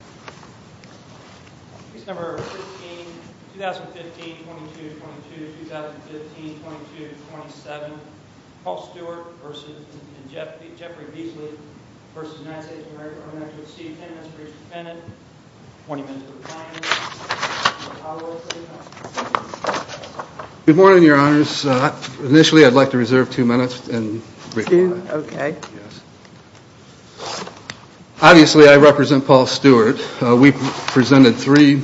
v. United States of America Administrator Steve Penance for each defendant. 20 minutes for the plaintiff. Good morning your honors. Initially I'd like to reserve two minutes Okay. Obviously I represent Paul Stewart. We presented three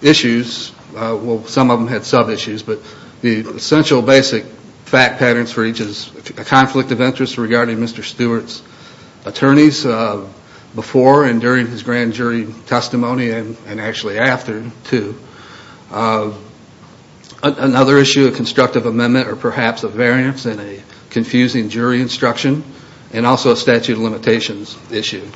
issues, well some of them had sub-issues, but the essential basic fact patterns for each is a conflict of interest regarding Mr. Stewart's attorneys before and during his grand jury testimony and actually after too. Another issue, a constructive amendment or perhaps a variance in a confusing jury instruction and also a statute of limitations issue.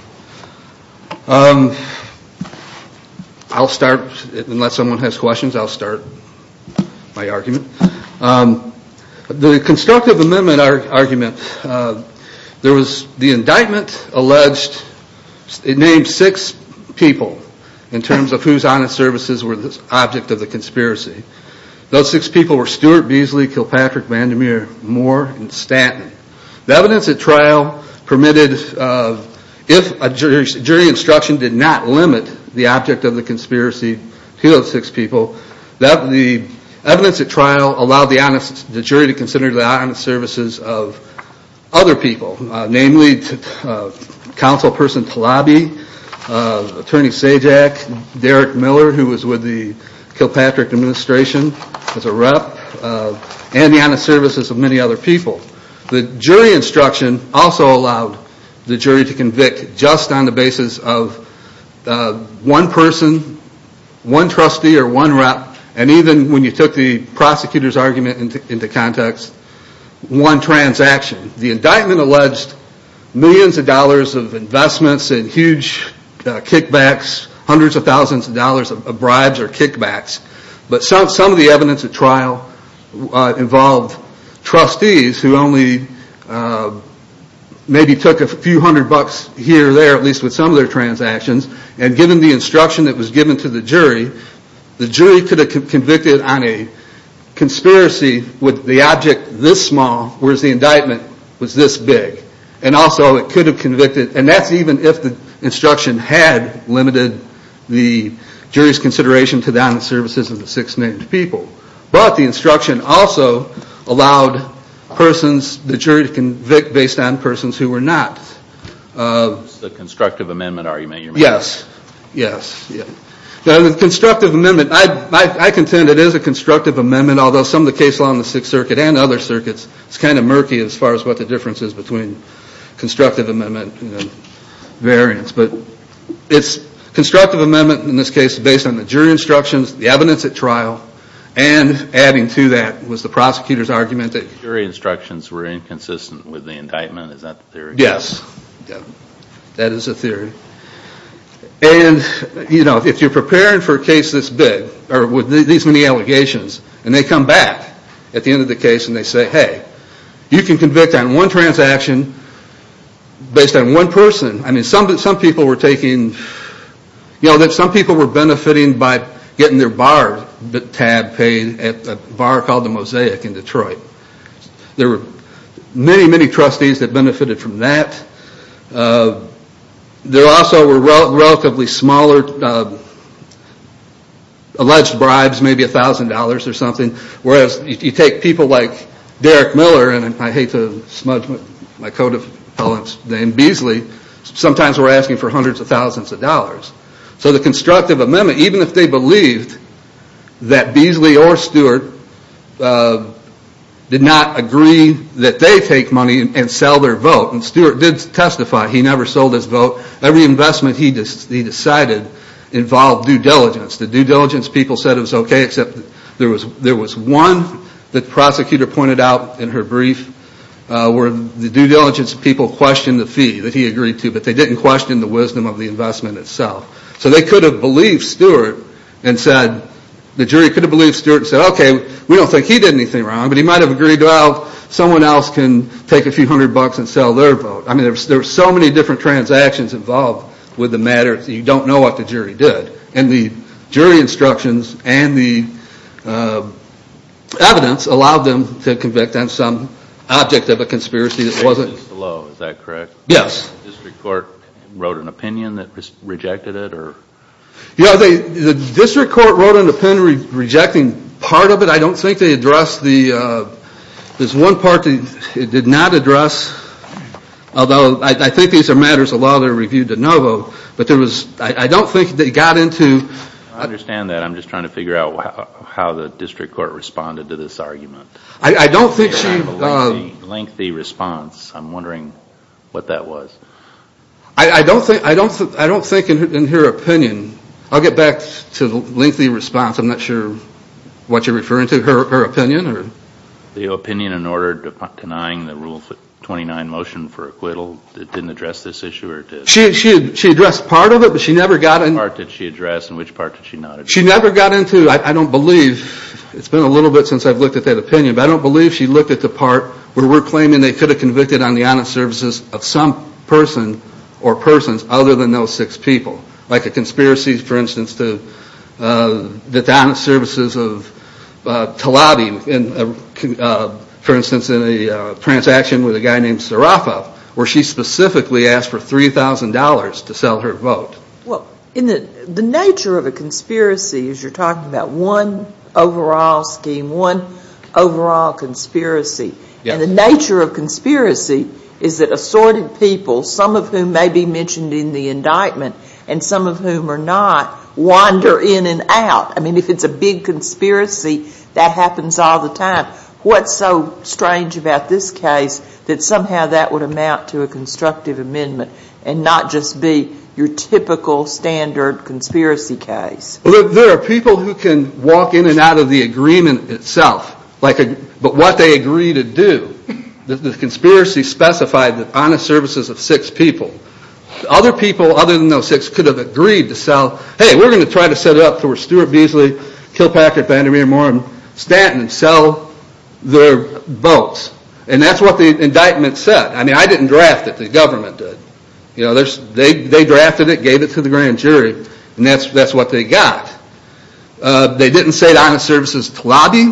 I'll start, unless someone has questions I'll start my argument. The constructive amendment argument, the indictment named six people in terms of whose honest services were the object of the conspiracy. Those six people were Stewart, Beasley, Kilpatrick, Vandermeer, Moore, and Stanton. The evidence at trial permitted, if a jury instruction did not limit the object of the conspiracy to those six people, the evidence at trial allowed the jury to consider the honest services of other people. The jury instruction also allowed the jury to convict just on the basis of one person, one trustee, or one rep, and even when you took the prosecutor's argument into context, one transaction. The indictment alleged millions of dollars of investments and huge kickbacks, hundreds of thousands of dollars of bribes or kickbacks, but some of the evidence at trial involved trustees who only maybe took a few hundred bucks here or there at least with some of their transactions. And given the instruction that was given to the jury, the jury could have convicted on a conspiracy with the object this small, whereas the indictment was this big. And also it could have convicted, and that's even if the instruction had limited the jury's consideration to the honest services of the six named people. But the instruction also allowed persons, the jury to convict based on persons who were not. It's the constructive amendment argument you're making. Yes, yes. The constructive amendment, I contend it is a constructive amendment, although some of the case law in the Sixth Circuit and other circuits, it's kind of murky as far as what the difference is between constructive amendment and variance. But it's constructive amendment in this case based on the jury instructions, the evidence at trial, and adding to that was the prosecutor's argument that jury instructions were inconsistent with the indictment, is that the theory? Yes, that is the theory. And, you know, if you're preparing for a case this big, or with these many allegations, and they come back at the end of the case and they say, hey, you can convict on one transaction based on one person. I mean, some people were taking, you know, some people were benefiting by getting their bar tab paid at a bar called the Mosaic in Detroit. There were many, many trustees that benefited from that. There also were relatively smaller alleged bribes, maybe $1,000 or something. Whereas, you take people like Derrick Miller, and I hate to smudge my coat of Palin's name, Beasley, sometimes were asking for hundreds of thousands of dollars. So the constructive amendment, even if they believed that Beasley or Stewart did not agree that they take money and sell their vote, and Stewart did testify he never sold his vote, every investment he decided involved due diligence. The due diligence people said it was okay, except there was one that the prosecutor pointed out in her brief where the due diligence people questioned the fee that he agreed to, but they didn't question the wisdom of the investment itself. So they could have believed Stewart and said, the jury could have believed Stewart and said, okay, we don't think he did anything wrong, but he might have agreed, well, someone else can take a few hundred bucks and sell their vote. I mean, there were so many different transactions involved with the matter that you don't know what the jury did. And the jury instructions and the evidence allowed them to convict on some object of a conspiracy that wasn't... The basis of the law, is that correct? Yes. The district court wrote an opinion that rejected it? Yeah, the district court wrote an opinion rejecting part of it. I don't think they addressed the, there's one part they did not address, although I think these are matters of law that are reviewed de novo, but I don't think they got into... I understand that, I'm just trying to figure out how the district court responded to this argument. I don't think she... Lengthy response, I'm wondering what that was. I don't think in her opinion, I'll get back to the lengthy response, I'm not sure what you're referring to, her opinion or... The opinion in order to denying the Rule 29 motion for acquittal, it didn't address this issue or it did? She addressed part of it, but she never got into... Which part did she address and which part did she not address? She never got into, I don't believe, it's been a little bit since I've looked at that opinion, but I don't believe she looked at the part where we're claiming they could have convicted on the honest services of some person. Or persons, other than those six people. Like a conspiracy, for instance, to the honest services of Tlaib, for instance, in a transaction with a guy named Sarafa, where she specifically asked for $3,000 to sell her vote. Well, the nature of a conspiracy, as you're talking about, one overall scheme, one overall conspiracy. And the nature of conspiracy is that assorted people, some of whom may be mentioned in the indictment, and some of whom are not, wander in and out. I mean, if it's a big conspiracy, that happens all the time. What's so strange about this case that somehow that would amount to a constructive amendment and not just be your typical standard conspiracy case? There are people who can walk in and out of the agreement itself. But what they agree to do, the conspiracy specified the honest services of six people. Other people, other than those six, could have agreed to sell. Hey, we're going to try to set up for Stuart Beasley, Kilpatrick, Van der Meer, Moore, and Stanton, and sell their votes. And that's what the indictment said. I mean, I didn't draft it, the government did. They drafted it, gave it to the grand jury, and that's what they got. They didn't say that honest services to lobby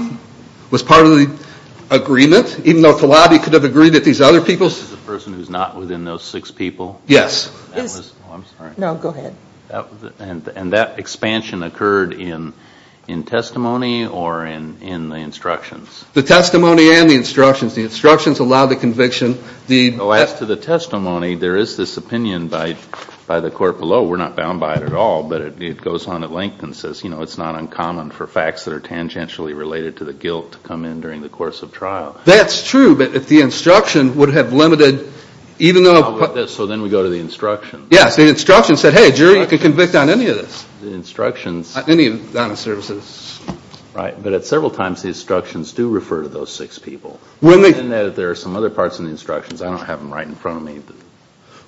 was part of the agreement, even though to lobby could have agreed that these other people. The person who's not within those six people? Yes. I'm sorry. No, go ahead. And that expansion occurred in testimony or in the instructions? The testimony and the instructions. The instructions allow the conviction. As to the testimony, there is this opinion by the court below. We're not bound by it at all, but it goes on at length and says, you know, it's not uncommon for facts that are tangentially related to the guilt to come in during the course of trial. That's true, but if the instruction would have limited, even though... So then we go to the instruction. Yes, the instruction said, hey, jury, you can convict on any of this. The instructions... Any of the honest services. Right, but several times the instructions do refer to those six people. There are some other parts in the instructions. I don't have them right in front of me.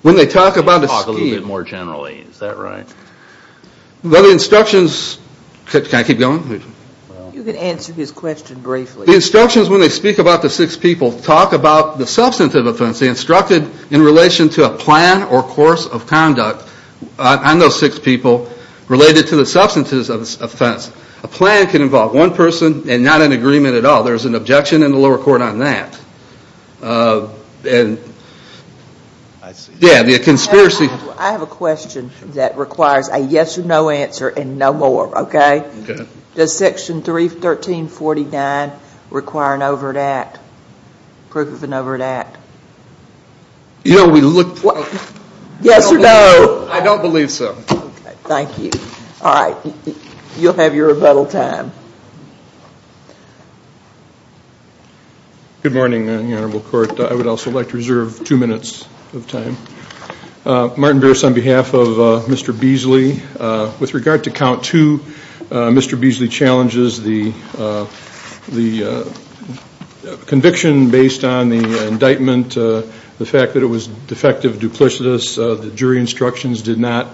When they talk about the scheme... Talk a little bit more generally. Is that right? Well, the instructions... Can I keep going? You can answer his question briefly. The instructions, when they speak about the six people, talk about the substantive offense. They instructed in relation to a plan or course of conduct on those six people related to the substantive offense. A plan can involve one person and not an agreement at all. There's an objection in the lower court on that. I see. Yeah, the conspiracy... I have a question that requires a yes or no answer and no more, okay? Okay. Does Section 31349 require an overt act, proof of an overt act? You know, we looked... Yes or no? I don't believe so. Okay, thank you. All right, you'll have your rebuttal time. Good morning, Your Honorable Court. I would also like to reserve two minutes of time. Martin Burris on behalf of Mr. Beasley. With regard to count two, Mr. Beasley challenges the conviction based on the indictment, the fact that it was defective duplicitous, the jury instructions did not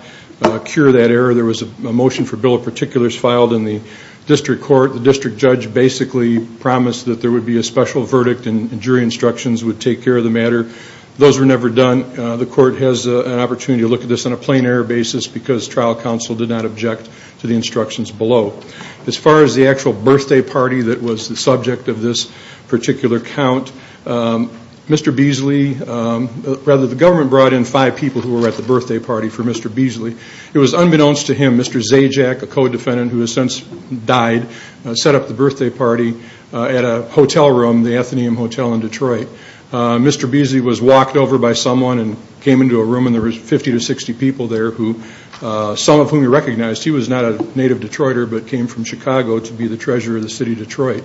cure that error. There was a motion for bill of particulars filed in the district court. The district judge basically promised that there would be a special verdict and jury instructions would take care of the matter. Those were never done. The court has an opportunity to look at this on a plain error basis because trial counsel did not object to the instructions below. As far as the actual birthday party that was the subject of this particular count, Mr. Beasley, rather the government brought in five people who were at the birthday party for Mr. Beasley. It was unbeknownst to him, Mr. Zajac, a co-defendant who has since died, set up the birthday party at a hotel room, the Athenaeum Hotel in Detroit. Mr. Beasley was walked over by someone and came into a room and there were 50 to 60 people there, some of whom he recognized. He was not a native Detroiter but came from Chicago to be the treasurer of the city of Detroit.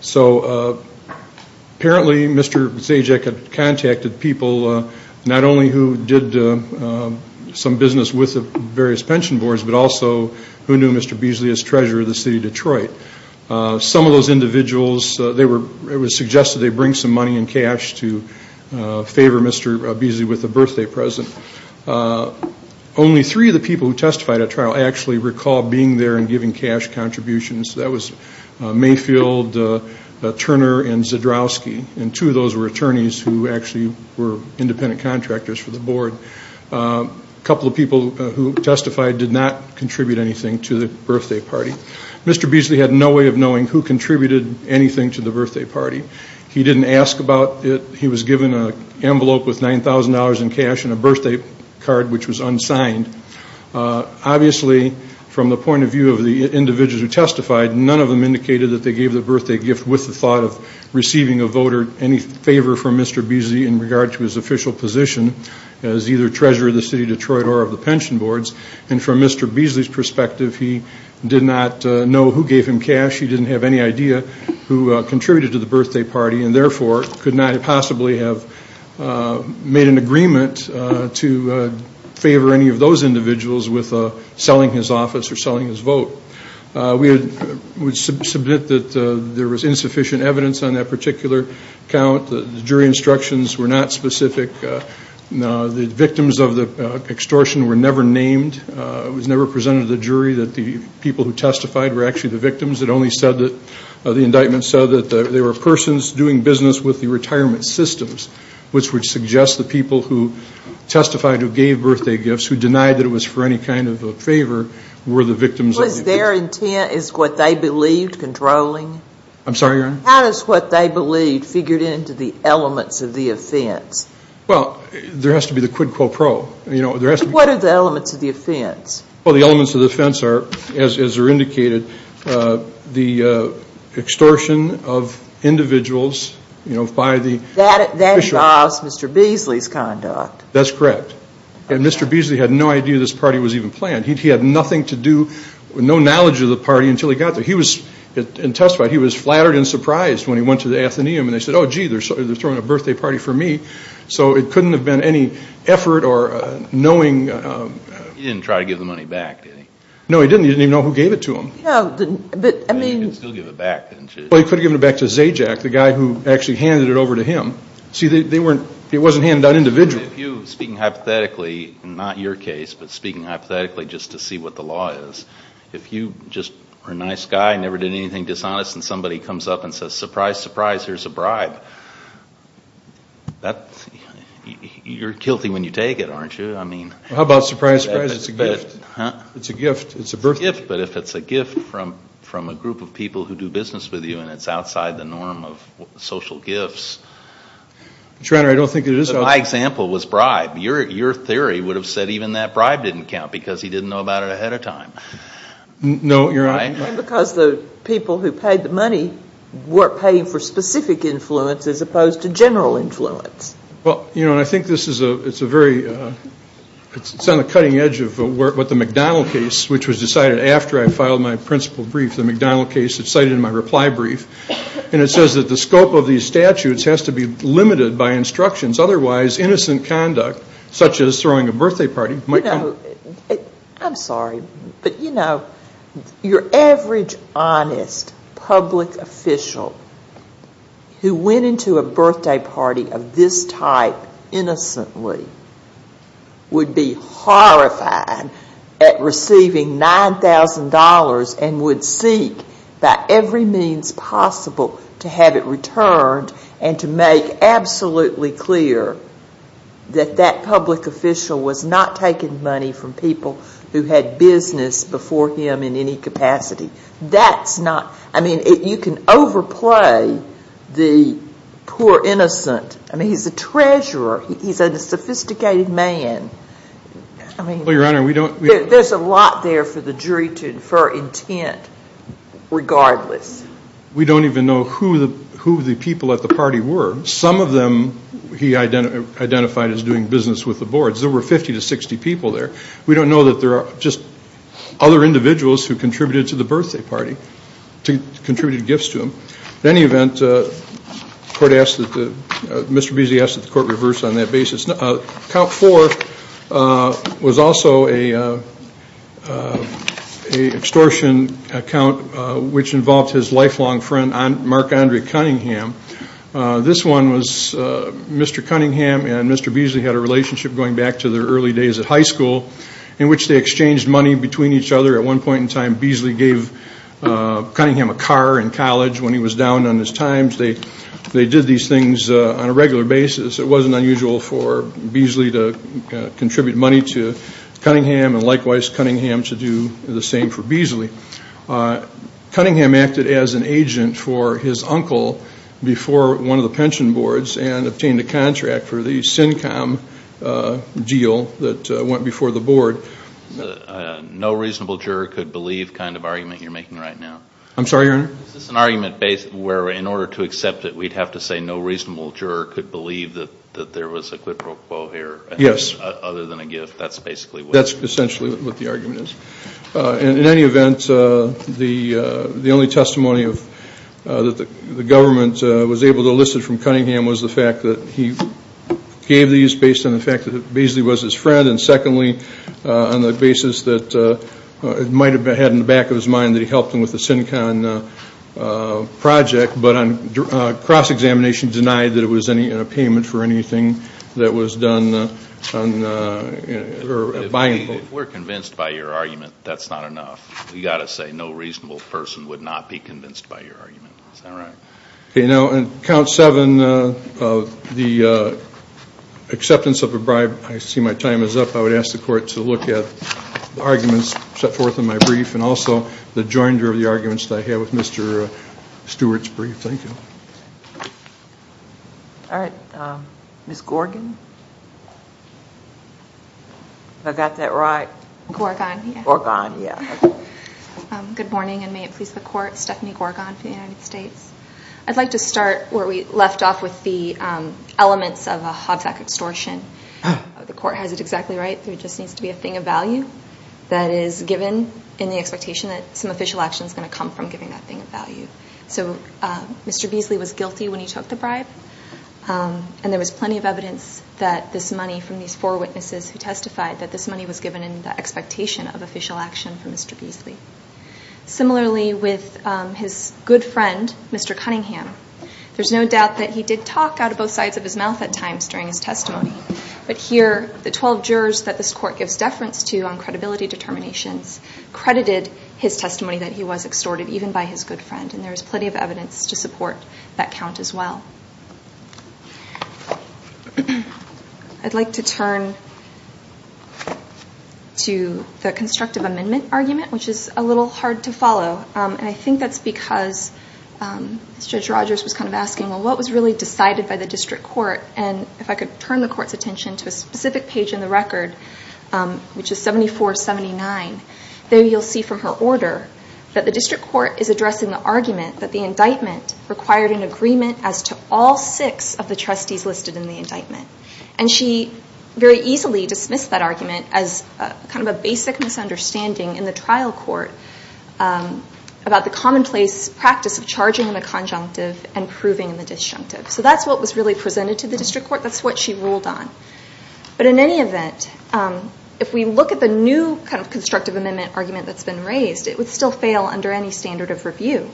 So apparently Mr. Zajac had contacted people not only who did some business with the various pension boards but also who knew Mr. Beasley as treasurer of the city of Detroit. Some of those individuals, it was suggested they bring some money in cash to favor Mr. Beasley with a birthday present. Only three of the people who testified at trial actually recall being there and giving cash contributions. That was Mayfield, Turner, and Zadrowski, and two of those were attorneys who actually were independent contractors for the board. A couple of people who testified did not contribute anything to the birthday party. Mr. Beasley had no way of knowing who contributed anything to the birthday party. He didn't ask about it. He was given an envelope with $9,000 in cash and a birthday card which was unsigned. Obviously, from the point of view of the individuals who testified, none of them indicated that they gave the birthday gift with the thought of receiving a voter any favor from Mr. Beasley in regard to his official position as either treasurer of the city of Detroit or of the pension boards. And from Mr. Beasley's perspective, he did not know who gave him cash. He didn't have any idea who contributed to the birthday party and therefore could not possibly have made an agreement to favor any of those individuals with selling his office or selling his vote. We submit that there was insufficient evidence on that particular account. The jury instructions were not specific. The victims of the extortion were never named. It was never presented to the jury that the people who testified were actually the victims. It only said that the indictment said that they were persons doing business with the retirement systems, which would suggest the people who testified who gave birthday gifts, who denied that it was for any kind of a favor, were the victims of the extortion. Was their intent, is what they believed, controlling? I'm sorry, Your Honor? How does what they believed figure into the elements of the offense? Well, there has to be the quid pro quo. What are the elements of the offense? Well, the elements of the offense are, as are indicated, the extortion of individuals, you know, by the official. That involves Mr. Beasley's conduct. That's correct. And Mr. Beasley had no idea this party was even planned. He had nothing to do, no knowledge of the party until he got there. He was, in testifying, he was flattered and surprised when he went to the Athenaeum and they said, oh, gee, they're throwing a birthday party for me. So it couldn't have been any effort or knowing. He didn't try to give the money back, did he? No, he didn't. He didn't even know who gave it to him. No, he didn't. But, I mean. He could still give it back, didn't you? Well, he could have given it back to Zajac, the guy who actually handed it over to him. See, they weren't, it wasn't handed out individually. If you, speaking hypothetically, not your case, but speaking hypothetically just to see what the law is, if you just are a nice guy and never did anything dishonest and somebody comes up and says, surprise, surprise, here's a bribe, that's, you're guilty when you take it, aren't you? I mean. How about surprise, surprise, it's a gift? Huh? It's a gift, it's a birthday. It's a gift, but if it's a gift from a group of people who do business with you and it's outside the norm of social gifts. Your Honor, I don't think it is. My example was bribe. Your theory would have said even that bribe didn't count because he didn't know about it ahead of time. No, you're right. Right? Because the people who paid the money were paying for specific influence as opposed to general influence. Well, you know, I think this is a very, it's on the cutting edge of what the McDonnell case, which was decided after I filed my principal brief, the McDonnell case, it's cited in my reply brief, and it says that the scope of these statutes has to be limited by instructions. Otherwise, innocent conduct, such as throwing a birthday party, might count. I'm sorry, but, you know, your average honest public official who went into a birthday party of this type innocently would be horrified at receiving $9,000 and would seek by every means possible to have it returned and to make absolutely clear that that public official was not taking money from people who had business before him in any capacity. That's not, I mean, you can overplay the poor innocent. I mean, he's a treasurer. He's a sophisticated man. I mean, there's a lot there for the jury to infer intent regardless. We don't even know who the people at the party were. Some of them he identified as doing business with the boards. There were 50 to 60 people there. We don't know that there are just other individuals who contributed to the birthday party, contributed gifts to them. At any event, the court asked, Mr. Busey asked that the court reverse on that basis. Account four was also an extortion account which involved his lifelong friend, Mark Andre Cunningham. This one was Mr. Cunningham and Mr. Beasley had a relationship going back to their early days at high school in which they exchanged money between each other. At one point in time, Beasley gave Cunningham a car in college when he was down on his times. They did these things on a regular basis. It wasn't unusual for Beasley to contribute money to Cunningham and likewise Cunningham to do the same for Beasley. Cunningham acted as an agent for his uncle before one of the pension boards and obtained a contract for the CINCOM deal that went before the board. No reasonable juror could believe kind of argument you're making right now. I'm sorry, Your Honor? Is this an argument where in order to accept it we'd have to say no reasonable juror could believe that there was a quid pro quo here? Yes. Other than a gift. That's basically what it is. That's essentially what the argument is. In any event, the only testimony that the government was able to elicit from Cunningham was the fact that he gave these based on the fact that Beasley was his friend and secondly on the basis that it might have been in the back of his mind that he helped him with the CINCOM project, but on cross-examination denied that it was a payment for anything that was done. If we're convinced by your argument, that's not enough. We've got to say no reasonable person would not be convinced by your argument. Is that right? On Count 7, the acceptance of a bribe. I see my time is up. I would ask the Court to look at the arguments set forth in my brief and also the joinder of the arguments that I had with Mr. Stewart's brief. Thank you. All right. Ms. Gorgon? Have I got that right? Gorgon, yeah. Gorgon, yeah. Good morning and may it please the Court. I'm Stephanie Gorgon for the United States. I'd like to start where we left off with the elements of a Hobsack extortion. The Court has it exactly right. There just needs to be a thing of value that is given in the expectation that some official action is going to come from giving that thing of value. So Mr. Beasley was guilty when he took the bribe and there was plenty of evidence that this money from these four witnesses who testified that this money was given in the expectation of official action from Mr. Beasley. Similarly, with his good friend, Mr. Cunningham, there's no doubt that he did talk out of both sides of his mouth at times during his testimony. But here, the 12 jurors that this Court gives deference to on credibility determinations credited his testimony that he was extorted even by his good friend and there is plenty of evidence to support that count as well. I'd like to turn to the constructive amendment argument, which is a little hard to follow, and I think that's because Judge Rogers was kind of asking, well, what was really decided by the District Court? And if I could turn the Court's attention to a specific page in the record, which is 7479, there you'll see from her order that the District Court is addressing the argument that the indictment required an agreement as to all six of the trustees listed in the indictment. And she very easily dismissed that argument as kind of a basic misunderstanding in the trial court about the commonplace practice of charging in the conjunctive and proving in the disjunctive. So that's what was really presented to the District Court. That's what she ruled on. But in any event, if we look at the new kind of constructive amendment argument that's been raised, it would still fail under any standard of review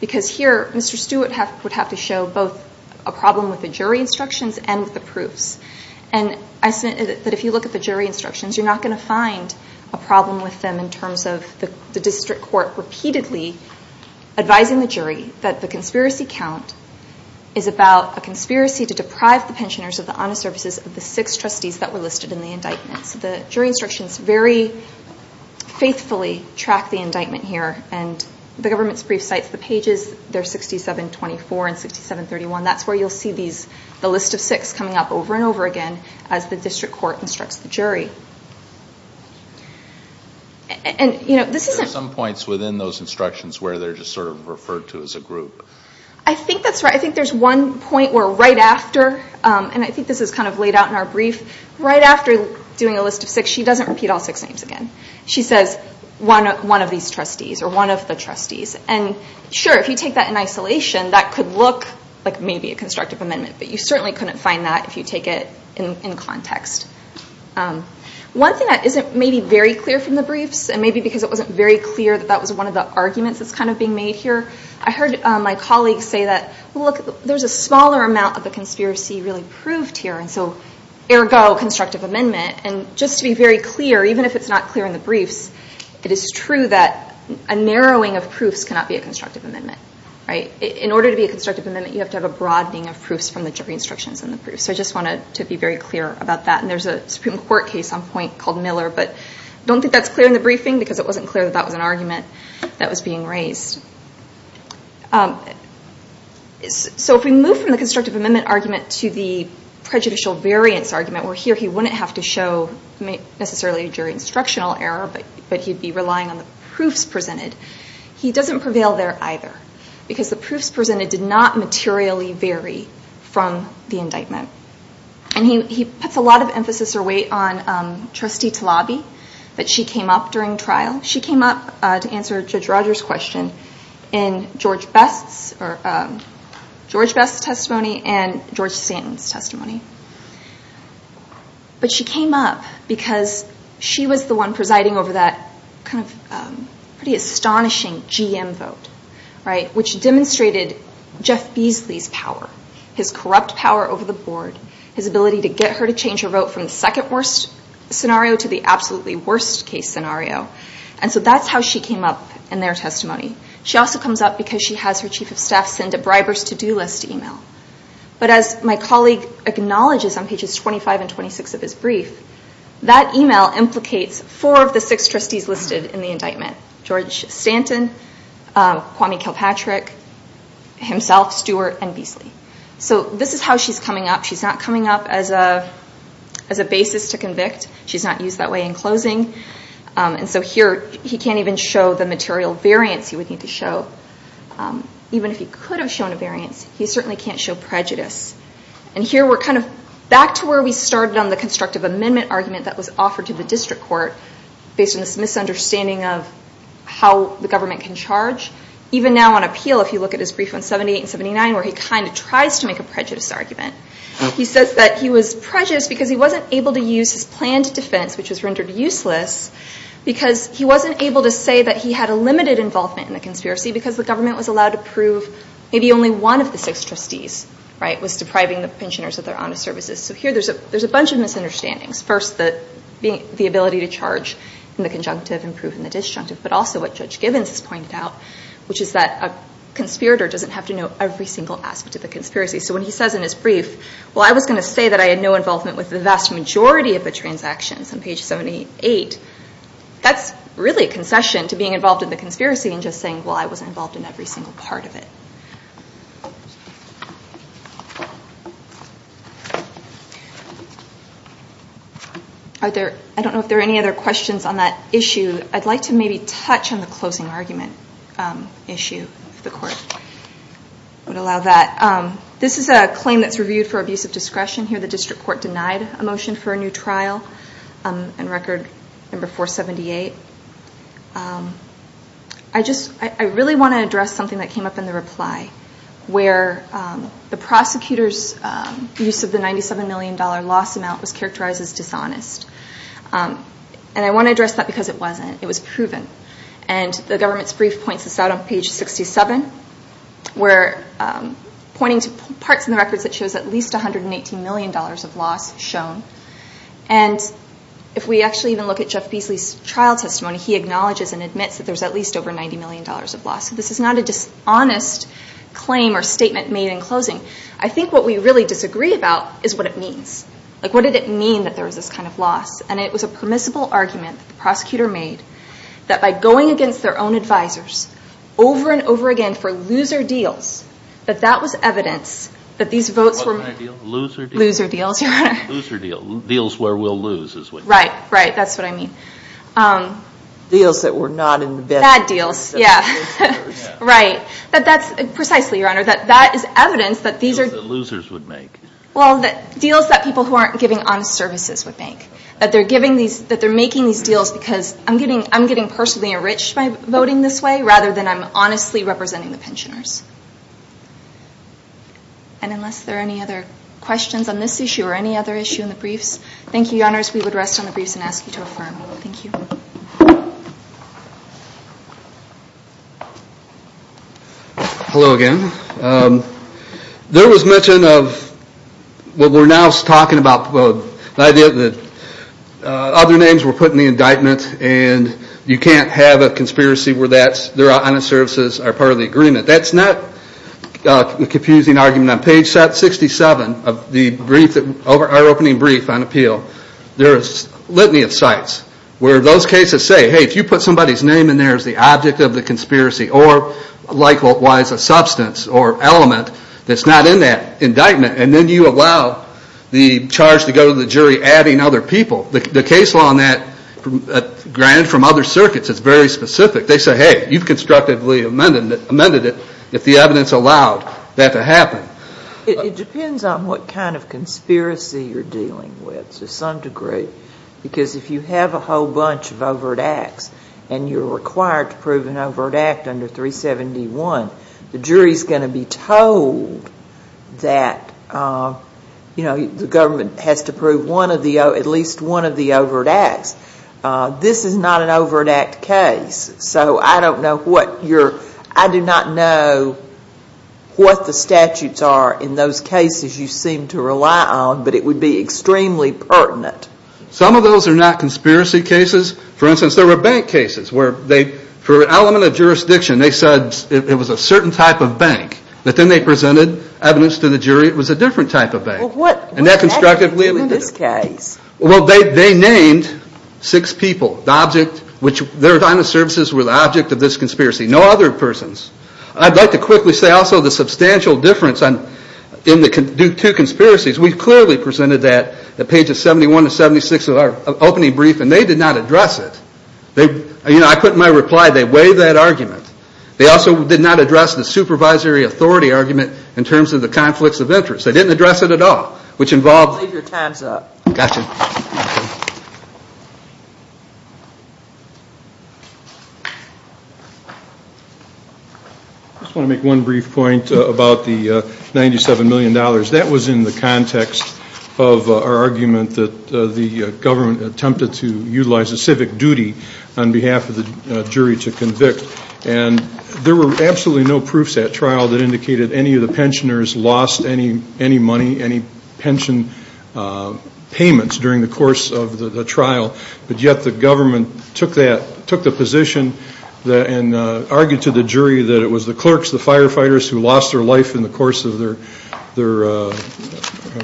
because here Mr. Stewart would have to show both a problem with the jury instructions and with the proofs. And I said that if you look at the jury instructions, you're not going to find a problem with them in terms of the District Court repeatedly advising the jury that the conspiracy count is about a conspiracy to deprive the pensioners of the honest services of the six trustees that were listed in the indictment. So the jury instructions very faithfully track the indictment here. And the government's brief cites the pages. They're 6724 and 6731. That's where you'll see the list of six coming up over and over again as the District Court instructs the jury. There are some points within those instructions where they're just sort of referred to as a group. I think that's right. I think there's one point where right after, and I think this is kind of laid out in our brief, right after doing a list of six, she doesn't repeat all six names again. She says one of these trustees or one of the trustees. And sure, if you take that in isolation, that could look like maybe a constructive amendment, but you certainly couldn't find that if you take it in context. One thing that isn't maybe very clear from the briefs, and maybe because it wasn't very clear that that was one of the arguments that's kind of being made here, I heard my colleagues say that, look, there's a smaller amount of the conspiracy really proved here, and so ergo constructive amendment. And just to be very clear, even if it's not clear in the briefs, it is true that a narrowing of proofs cannot be a constructive amendment. In order to be a constructive amendment, you have to have a broadening of proofs from the jury instructions and the proofs. So I just wanted to be very clear about that, and there's a Supreme Court case on point called Miller, but I don't think that's clear in the briefing because it wasn't clear that that was an argument that was being raised. So if we move from the constructive amendment argument to the prejudicial variance argument where here he wouldn't have to show necessarily a jury instructional error, but he'd be relying on the proofs presented, he doesn't prevail there either because the proofs presented did not materially vary from the indictment. And he puts a lot of emphasis or weight on Trustee Talabi, that she came up during trial. She came up to answer Judge Rogers' question in George Best's testimony and George Stanton's testimony. But she came up because she was the one presiding over that pretty astonishing GM vote, which demonstrated Jeff Beasley's power, his corrupt power over the board, his ability to get her to change her vote from the second worst scenario to the absolutely worst case scenario. And so that's how she came up in their testimony. She also comes up because she has her Chief of Staff send a briber's to-do list email. But as my colleague acknowledges on pages 25 and 26 of his brief, that email implicates four of the six trustees listed in the indictment. George Stanton, Kwame Kilpatrick, himself, Stewart, and Beasley. So this is how she's coming up. She's not coming up as a basis to convict. She's not used that way in closing. And so here he can't even show the material variance he would need to show. Even if he could have shown a variance, he certainly can't show prejudice. And here we're kind of back to where we started on the constructive amendment argument that was offered to the district court, based on this misunderstanding of how the government can charge. Even now on appeal, if you look at his brief on 78 and 79, where he kind of tries to make a prejudice argument. He says that he was prejudiced because he wasn't able to use his planned defense, which was rendered useless, because he wasn't able to say that he had a limited involvement in the conspiracy because the government was allowed to prove maybe only one of the six trustees was depriving the pensioners of their honest services. So here there's a bunch of misunderstandings. First, the ability to charge in the conjunctive and prove in the disjunctive, but also what Judge Gibbons has pointed out, which is that a conspirator doesn't have to know every single aspect of the conspiracy. So when he says in his brief, well, I was going to say that I had no involvement with the vast majority of the transactions on page 78, that's really a concession to being involved in the conspiracy and just saying, well, I wasn't involved in every single part of it. I don't know if there are any other questions on that issue. I'd like to maybe touch on the closing argument issue, if the court would allow that. This is a claim that's reviewed for abuse of discretion. Here the district court denied a motion for a new trial in Record No. 478. I really want to address something that came up in the reply, where the prosecutor's use of the $97 million loss amount was characterized as dishonest. And I want to address that because it wasn't. It was proven. And the government's brief points this out on page 67, where pointing to parts of the records that shows at least $118 million of loss shown. And if we actually even look at Jeff Beasley's trial testimony, he acknowledges and admits that there's at least over $90 million of loss. So this is not a dishonest claim or statement made in closing. I think what we really disagree about is what it means. Like, what did it mean that there was this kind of loss? And it was a permissible argument that the prosecutor made that by going against their own advisors over and over again for loser deals, that that was evidence that these votes were loser deals. Loser deals. Deals where we'll lose is what you mean. Right. Right. That's what I mean. Deals that were not in the best. Bad deals. Yeah. Right. But that's precisely, Your Honor, that that is evidence that these are. Deals that losers would make. Well, deals that people who aren't giving honest services would make. That they're making these deals because I'm getting personally enriched by voting this way rather than I'm honestly representing the pensioners. And unless there are any other questions on this issue or any other issue in the briefs, thank you, Your Honors. We would rest on the briefs and ask you to affirm. Thank you. Hello again. There was mention of what we're now talking about. The idea that other names were put in the indictment and you can't have a conspiracy where that's, their honest services are part of the agreement. That's not a confusing argument. On page 67 of our opening brief on appeal, there is litany of sites where those cases say, hey, if you put somebody's name in there as the object of the conspiracy or likewise a substance or element that's not in that indictment and then you allow the charge to go to the jury adding other people. The case law on that, granted from other circuits, is very specific. They say, hey, you've constructively amended it if the evidence allowed that to happen. It depends on what kind of conspiracy you're dealing with to some degree because if you have a whole bunch of overt acts and you're required to prove an overt act under 371, the jury is going to be told that, you know, the government has to prove at least one of the overt acts. This is not an overt act case. So I don't know what your, I do not know what the statutes are in those cases you seem to rely on, but it would be extremely pertinent. Some of those are not conspiracy cases. For instance, there were bank cases where they, for an element of jurisdiction, they said it was a certain type of bank, but then they presented evidence to the jury it was a different type of bank. Well, what did they do in this case? Well, they named six people, the object, which their kind of services were the object of this conspiracy, no other persons. I'd like to quickly say also the substantial difference in the two conspiracies. We clearly presented that at pages 71 to 76 of our opening brief and they did not address it. You know, I put in my reply they weighed that argument. They also did not address the supervisory authority argument in terms of the conflicts of interest. They didn't address it at all, which involved. Leave your times up. Gotcha. I just want to make one brief point about the $97 million. That was in the context of our argument that the government attempted to on behalf of the jury to convict. And there were absolutely no proofs at trial that indicated any of the pensioners lost any money, any pension payments during the course of the trial. But yet the government took the position and argued to the jury that it was the clerks, the firefighters who lost their life in the course of their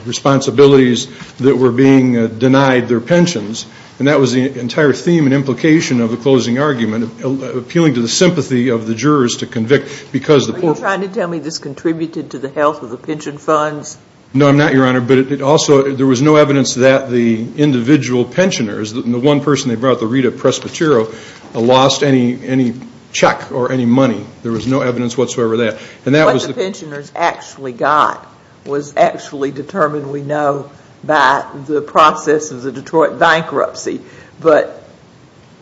responsibilities that were being denied their pensions. And that was the entire theme and implication of the closing argument, appealing to the sympathy of the jurors to convict because the poor folks. Are you trying to tell me this contributed to the health of the pension funds? No, I'm not, Your Honor. But also there was no evidence that the individual pensioners, the one person they brought, the Rita Presbitero, lost any check or any money. There was no evidence whatsoever of that. What the pensioners actually got was actually determined, we know, by the process of the Detroit bankruptcy.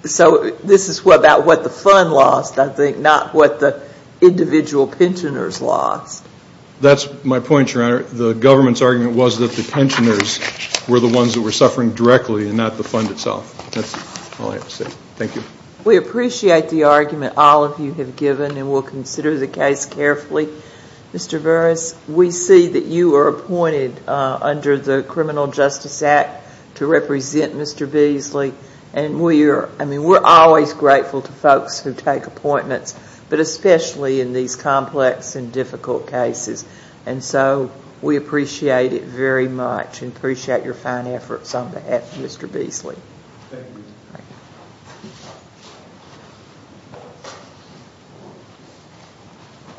So this is about what the fund lost, I think, not what the individual pensioners lost. That's my point, Your Honor. The government's argument was that the pensioners were the ones that were suffering directly and not the fund itself. That's all I have to say. Thank you. We appreciate the argument all of you have given, and we'll consider the case carefully. Mr. Burris, we see that you were appointed under the Criminal Justice Act to represent Mr. Beasley. And we're always grateful to folks who take appointments, but especially in these complex and difficult cases. And so we appreciate it very much and appreciate your fine efforts on behalf of Mr. Beasley. Thank you.